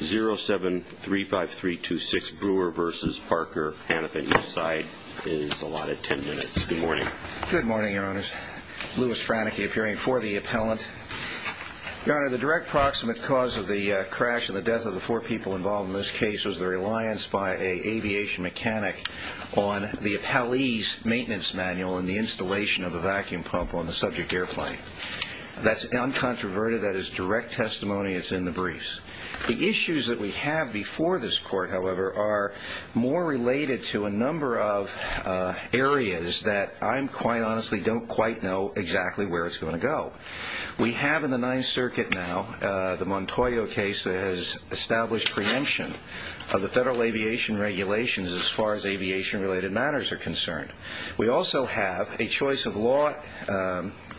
0735326 Brewer v. Parker Hannifin. Your side is allotted 10 minutes. Good morning. Good morning, Your Honors. Louis Franicki appearing for the appellant. Your Honor, the direct proximate cause of the crash and the death of the four people involved in this case was the reliance by an aviation mechanic on the appellee's maintenance manual and the installation of a vacuum pump on the subject airplane. That's uncontroverted. That is direct testimony. It's in the briefs. The issues that we have before this court, however, are more related to a number of areas that I quite honestly don't quite know exactly where it's going to go. We have in the Ninth Circuit now the Montoyo case that has established preemption of the federal aviation regulations as far as aviation-related matters are concerned. We also have a choice of law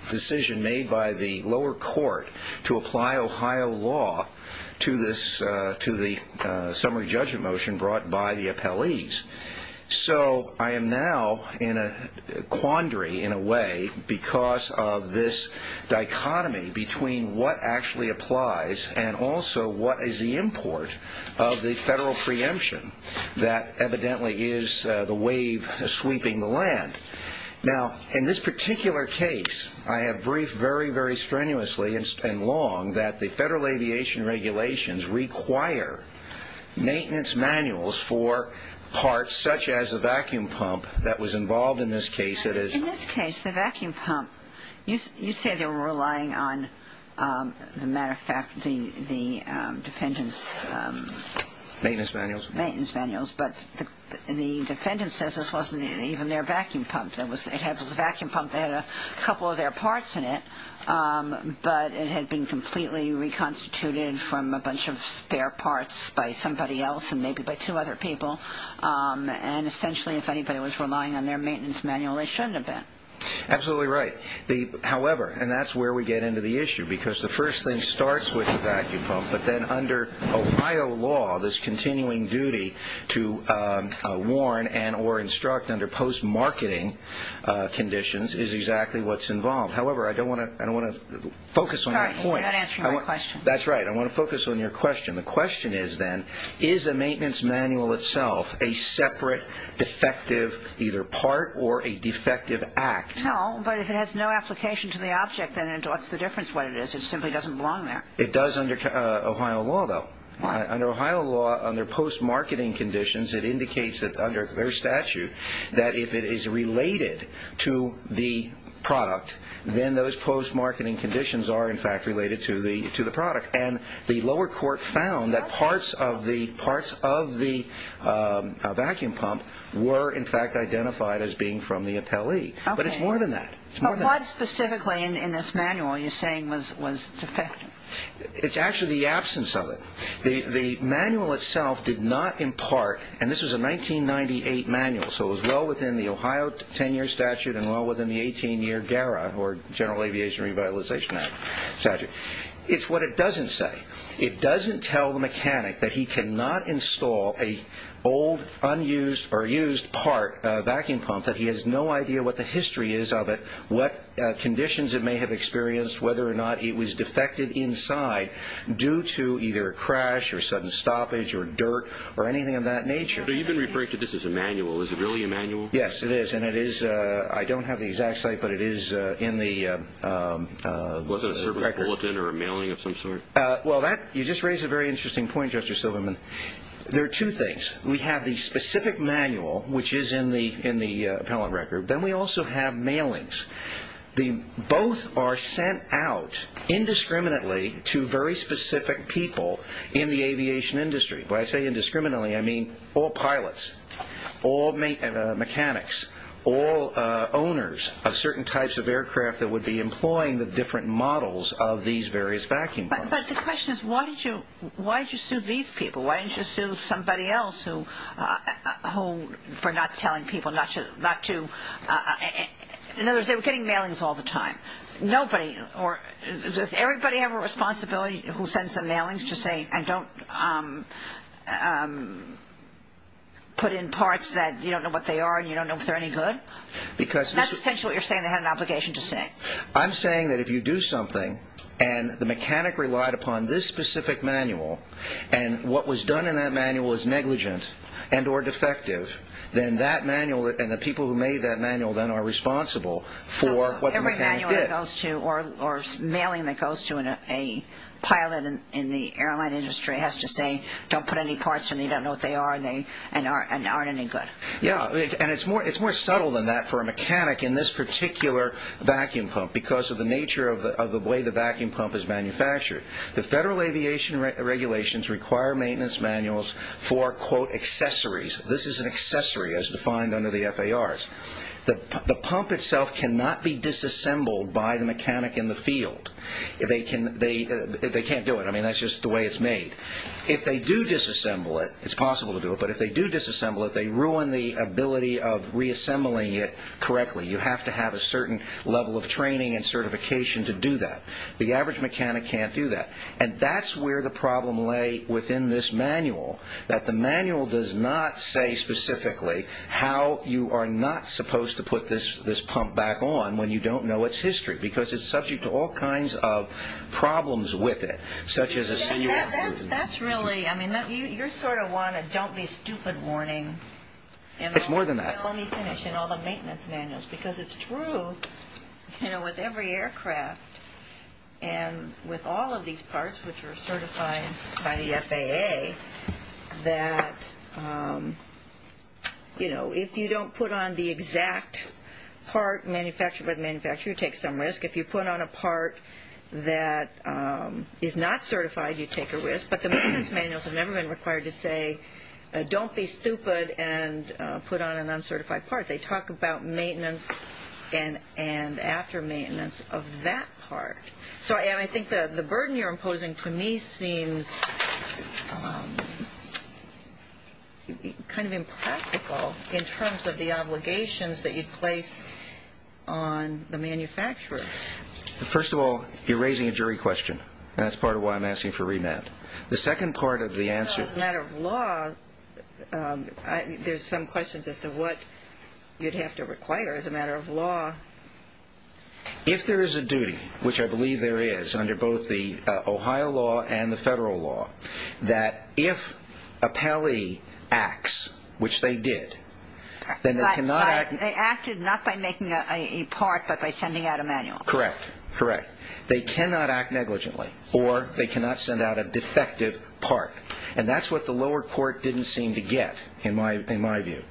decision made by the lower court to apply Ohio law to the summary judgment motion brought by the appellees. So I am now in a quandary in a way because of this dichotomy between what actually applies and also what is the import of the federal preemption that evidently is the wave sweeping the land. Now, in this particular case, I have briefed very, very strenuously and long that the federal aviation regulations require maintenance manuals for parts such as a vacuum pump that was involved in this case. In this case, the vacuum pump, you say they were relying on, as a matter of fact, the defendant's... Maintenance manuals. Maintenance manuals, but the defendant says this wasn't even their vacuum pump. It was a vacuum pump that had a couple of their parts in it, but it had been completely reconstituted from a bunch of spare parts by somebody else and maybe by two other people. And essentially, if anybody was relying on their maintenance manual, they shouldn't have been. Absolutely right. However, and that's where we get into the issue because the first thing starts with the vacuum pump, but then under Ohio law, this continuing duty to warn and or instruct under post-marketing conditions is exactly what's involved. However, I don't want to focus on your point. Sorry, you're not answering my question. That's right. I want to focus on your question. The question is then, is a maintenance manual itself a separate defective either part or a defective act? No, but if it has no application to the object, then what's the difference what it is? It simply doesn't belong there. It does under Ohio law, though. Under Ohio law, under post-marketing conditions, it indicates that under their statute that if it is related to the product, then those post-marketing conditions are in fact related to the product. And the lower court found that parts of the vacuum pump were in fact identified as being from the appellee. But it's more than that. But what specifically in this manual are you saying was defective? It's actually the absence of it. The manual itself did not impart, and this was a 1998 manual, so it was well within the Ohio 10-year statute and well within the 18-year GARA, or General Aviation Revitalization Act statute. It's what it doesn't say. It doesn't tell the mechanic that he cannot install an old unused or used part vacuum pump, that he has no idea what the history is of it, what conditions it may have experienced, whether or not it was defective inside, due to either a crash or sudden stoppage or dirt or anything of that nature. You've been referring to this as a manual. Is it really a manual? Yes, it is, and it is. I don't have the exact site, but it is in the record. Was it a service bulletin or a mailing of some sort? Well, you just raised a very interesting point, Justice Silverman. There are two things. First, we have the specific manual, which is in the appellant record. Then we also have mailings. Both are sent out indiscriminately to very specific people in the aviation industry. When I say indiscriminately, I mean all pilots, all mechanics, all owners of certain types of aircraft that would be employing the different models of these various vacuum pumps. But the question is, why did you sue these people? Why didn't you sue somebody else for not telling people not to? In other words, they were getting mailings all the time. Does everybody have a responsibility who sends them mailings to say, and don't put in parts that you don't know what they are and you don't know if they're any good? That's essentially what you're saying they had an obligation to say. I'm saying that if you do something and the mechanic relied upon this specific manual and what was done in that manual is negligent and or defective, then that manual and the people who made that manual then are responsible for what the mechanic did. So every manual that goes to or mailing that goes to a pilot in the airline industry has to say, don't put any parts in. They don't know what they are and aren't any good. Yeah, and it's more subtle than that for a mechanic in this particular vacuum pump because of the nature of the way the vacuum pump is manufactured. The federal aviation regulations require maintenance manuals for, quote, accessories. This is an accessory as defined under the FARs. The pump itself cannot be disassembled by the mechanic in the field. They can't do it. I mean, that's just the way it's made. If they do disassemble it, it's possible to do it. But if they do disassemble it, they ruin the ability of reassembling it correctly. You have to have a certain level of training and certification to do that. The average mechanic can't do that. And that's where the problem lay within this manual, that the manual does not say specifically how you are not supposed to put this pump back on when you don't know its history because it's subject to all kinds of problems with it, such as a senior crew. That's really, I mean, you're sort of one of don't be stupid warning. It's more than that. I only finish in all the maintenance manuals because it's true, you know, with every aircraft and with all of these parts which are certified by the FAA that, you know, if you don't put on the exact part manufactured by the manufacturer, you take some risk. If you put on a part that is not certified, you take a risk. But the maintenance manuals have never been required to say, don't be stupid and put on an uncertified part. They talk about maintenance and after maintenance of that part. So I think the burden you're imposing to me seems kind of impractical in terms of the obligations that you place on the manufacturer. First of all, you're raising a jury question, and that's part of why I'm asking for remand. The second part of the answer. As a matter of law, there's some questions as to what you'd have to require as a matter of law. If there is a duty, which I believe there is under both the Ohio law and the federal law, that if a Pelley acts, which they did, then they cannot act. They acted not by making a part but by sending out a manual. Correct, correct. They cannot act negligently, or they cannot send out a defective part. And that's what the lower court didn't seem to get, in my view.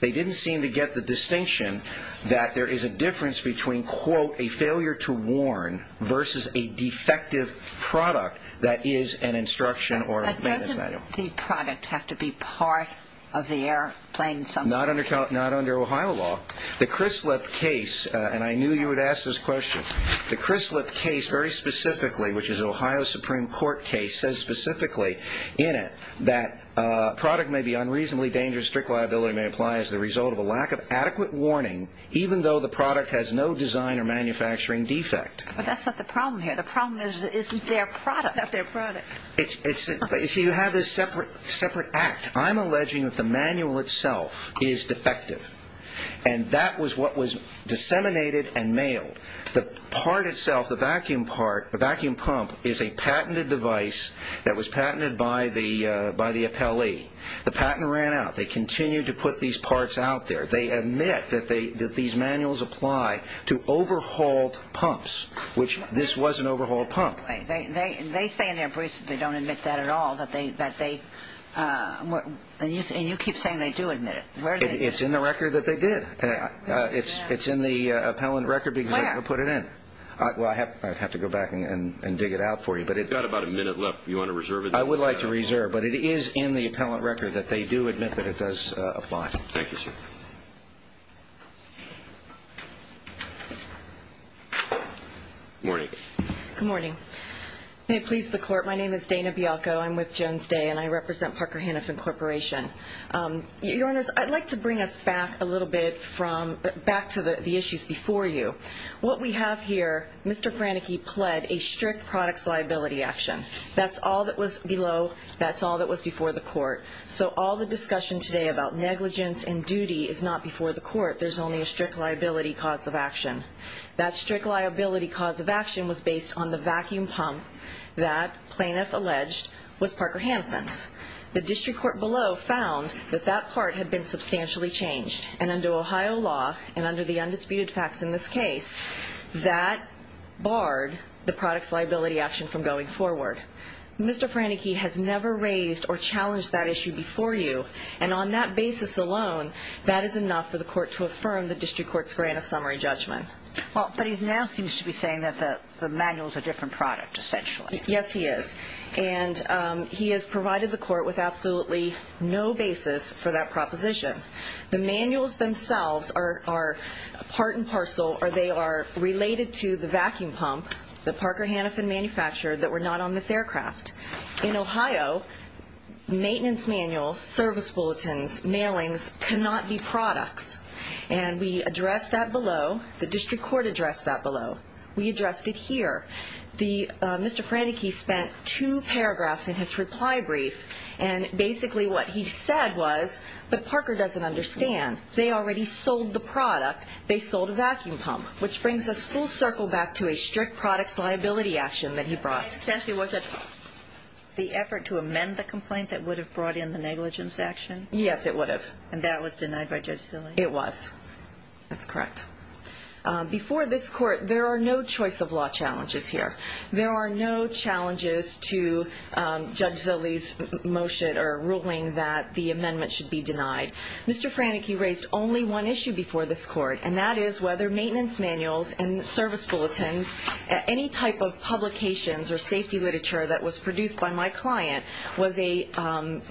They didn't seem to get the distinction that there is a difference between, quote, a failure to warn versus a defective product that is an instruction or a maintenance manual. But doesn't the product have to be part of the airplane? Not under Ohio law. The Chrislip case, and I knew you would ask this question. The Chrislip case very specifically, which is an Ohio Supreme Court case, says specifically in it that a product may be unreasonably dangerous, strict liability may apply as the result of a lack of adequate warning, even though the product has no design or manufacturing defect. But that's not the problem here. The problem is it isn't their product. It's not their product. See, you have this separate act. I'm alleging that the manual itself is defective. And that was what was disseminated and mailed. The part itself, the vacuum part, the vacuum pump, is a patented device that was patented by the appellee. The patent ran out. They continued to put these parts out there. They admit that these manuals apply to overhauled pumps, which this was an overhauled pump. They say in their briefs that they don't admit that at all, that they – and you keep saying they do admit it. It's in the record that they did. It's in the appellant record because they put it in. Where? Well, I'd have to go back and dig it out for you. You've got about a minute left. Do you want to reserve it? I would like to reserve. But it is in the appellant record that they do admit that it does apply. Thank you, sir. Good morning. Good morning. May it please the Court, my name is Dana Bianco. I'm with Jones Day, and I represent Parker Hannafin Corporation. Your Honors, I'd like to bring us back a little bit from – back to the issues before you. What we have here, Mr. Frannike pled a strict products liability action. That's all that was below, that's all that was before the Court. So all the discussion today about negligence and duty is not before the Court. There's only a strict liability cause of action. That strict liability cause of action was based on the vacuum pump that, plaintiff alleged, was Parker Hannafin's. The district court below found that that part had been substantially changed. And under Ohio law, and under the undisputed facts in this case, that barred the products liability action from going forward. Mr. Frannike has never raised or challenged that issue before you. And on that basis alone, that is enough for the Court to affirm the district court's grant of summary judgment. But he now seems to be saying that the manual is a different product, essentially. Yes, he is. And he has provided the Court with absolutely no basis for that proposition. The manuals themselves are part and parcel, or they are related to the vacuum pump that Parker Hannafin manufactured that were not on this aircraft. In Ohio, maintenance manuals, service bulletins, mailings cannot be products. And we addressed that below. The district court addressed that below. We addressed it here. Mr. Frannike spent two paragraphs in his reply brief. And basically what he said was, but Parker doesn't understand, they already sold the product. They sold a vacuum pump, which brings us full circle back to a strict products liability action that he brought. Essentially, was it the effort to amend the complaint that would have brought in the negligence action? Yes, it would have. And that was denied by Judge Dilley? It was. That's correct. Before this Court, there are no choice of law challenges here. There are no challenges to Judge Dilley's motion or ruling that the amendment should be denied. Mr. Frannike raised only one issue before this Court, and that is whether maintenance manuals and service bulletins, any type of publications or safety literature that was produced by my client was a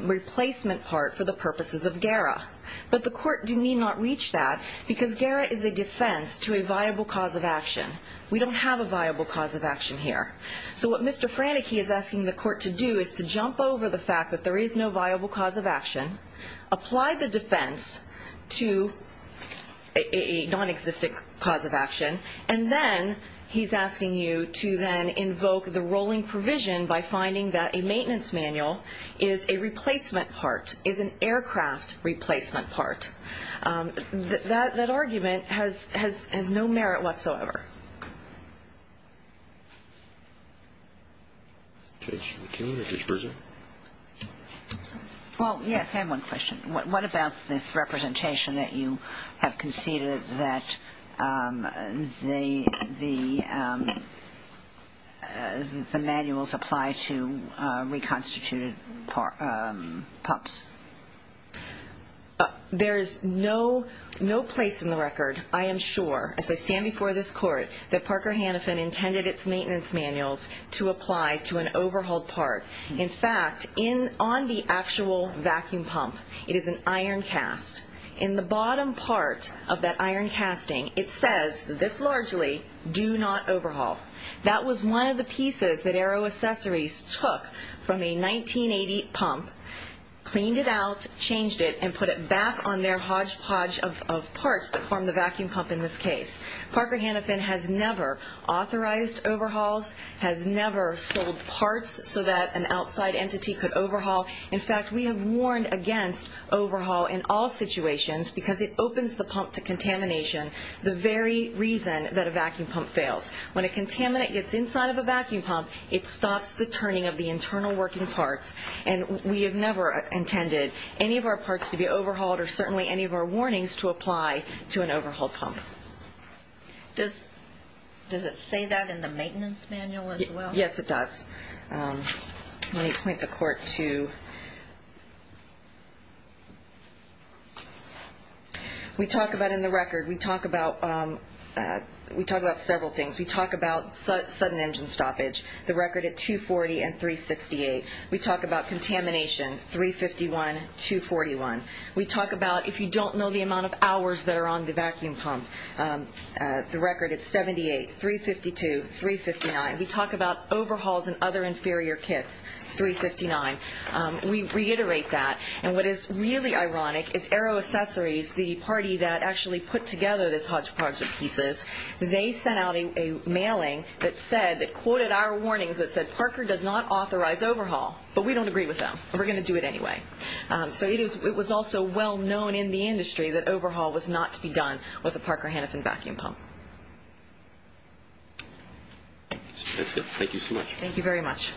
replacement part for the purposes of GARA. But the Court did not reach that because GARA is a defense to a viable cause of action. We don't have a viable cause of action here. So what Mr. Frannike is asking the Court to do is to jump over the fact that there is no viable cause of action, apply the defense to a nonexistent cause of action, and then he's asking you to then invoke the ruling provision by finding that a maintenance manual is a replacement part, is an aircraft replacement part. That argument has no merit whatsoever. Judge McKeown or Judge Berger? Well, yes, I have one question. What about this representation that you have conceded that the manuals apply to reconstituted pumps? There is no place in the record, I am sure, as I stand before this Court, that Parker Hannafin intended its maintenance manuals to apply to an overhauled part. In fact, on the actual vacuum pump, it is an iron cast. In the bottom part of that iron casting, it says, this largely, do not overhaul. That was one of the pieces that Arrow Accessories took from a 1980 pump, cleaned it out, changed it, and put it back on their hodgepodge of parts that form the vacuum pump in this case. Parker Hannafin has never authorized overhauls, has never sold parts so that an outside entity could overhaul. In fact, we have warned against overhaul in all situations because it opens the pump to contamination, the very reason that a vacuum pump fails. When a contaminant gets inside of a vacuum pump, it stops the turning of the internal working parts, and we have never intended any of our parts to be overhauled or certainly any of our warnings to apply to an overhauled pump. Does it say that in the maintenance manual as well? Yes, it does. Let me point the Court to, we talk about in the record, we talk about several things. We talk about sudden engine stoppage, the record at 240 and 368. We talk about contamination, 351, 241. We talk about if you don't know the amount of hours that are on the vacuum pump, the record at 78, 352, 359. We talk about overhauls and other inferior kits, 359. We reiterate that, and what is really ironic is Arrow Accessories, the party that actually put together this hodgepodge of pieces, they sent out a mailing that said, that quoted our warnings that said, Parker does not authorize overhaul, but we don't agree with them, and we're going to do it anyway. So it was also well known in the industry that overhaul was not to be done with a Parker Hennepin vacuum pump. That's good. Thank you so much. Thank you very much.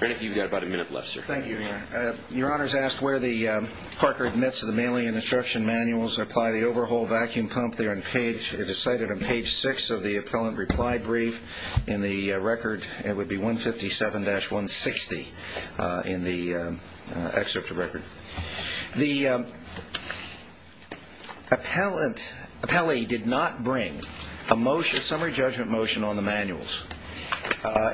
Brenna, you've got about a minute left, sir. Thank you, Your Honor. Your Honor's asked where the Parker admits to the mailing and instruction manuals apply the overhaul vacuum pump. They're cited on page six of the appellant reply brief. In the record, it would be 157-160 in the excerpt of the record. The appellee did not bring a summary judgment motion on the manuals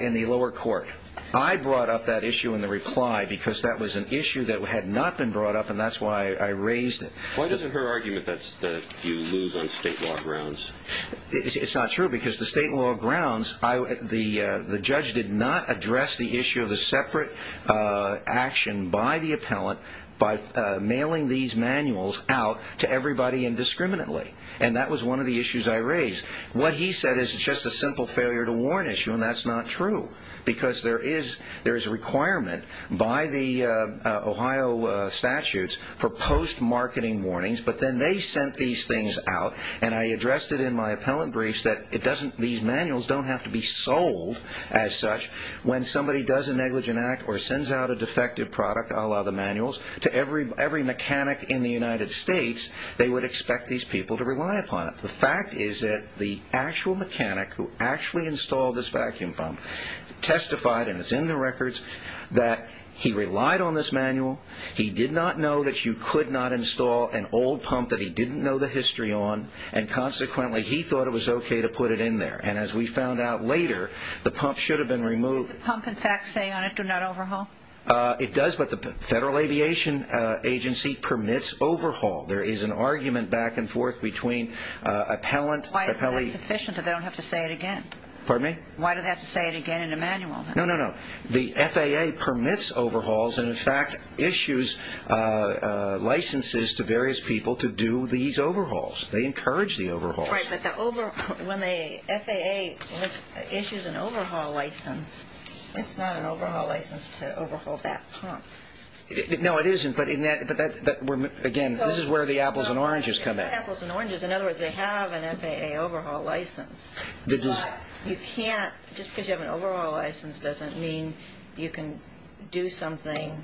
in the lower court. I brought up that issue in the reply because that was an issue that had not been brought up, and that's why I raised it. Why doesn't her argument that you lose on state law grounds? It's not true because the state law grounds, the judge did not address the issue of the separate action by the appellant by mailing these manuals out to everybody indiscriminately, and that was one of the issues I raised. What he said is it's just a simple failure to warn issue, and that's not true, because there is a requirement by the Ohio statutes for post-marketing warnings, but then they sent these things out, and I addressed it in my appellant briefs that these manuals don't have to be sold as such. When somebody does a negligent act or sends out a defective product, a la the manuals, to every mechanic in the United States, they would expect these people to rely upon it. The fact is that the actual mechanic who actually installed this vacuum pump testified, and it's in the records, that he relied on this manual. He did not know that you could not install an old pump that he didn't know the history on, and consequently he thought it was okay to put it in there, and as we found out later, the pump should have been removed. Does the pump in fact say on it, do not overhaul? It does, but the Federal Aviation Agency permits overhaul. There is an argument back and forth between appellant. Why is that sufficient that they don't have to say it again? Pardon me? Why do they have to say it again in a manual? No, no, no. The FAA permits overhauls and in fact issues licenses to various people to do these overhauls. They encourage the overhauls. Right, but when the FAA issues an overhaul license, it's not an overhaul license to overhaul that pump. No, it isn't, but again, this is where the apples and oranges come in. The apples and oranges, in other words, they have an FAA overhaul license. But you can't, just because you have an overhaul license doesn't mean you can do something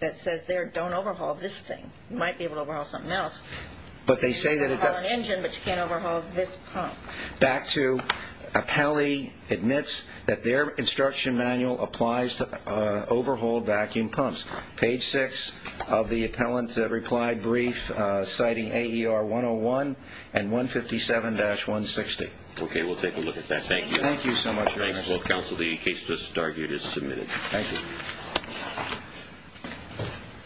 that says there, don't overhaul this thing. You might be able to overhaul something else. But they say that it does. You can overhaul an engine, but you can't overhaul this pump. Back to appellee admits that their instruction manual applies to overhauled vacuum pumps. Page 6 of the appellant's replied brief citing AER 101 and 157-160. Okay, we'll take a look at that. Thank you. Thank you so much, Your Honor. Well, counsel, the case just argued is submitted. Thank you.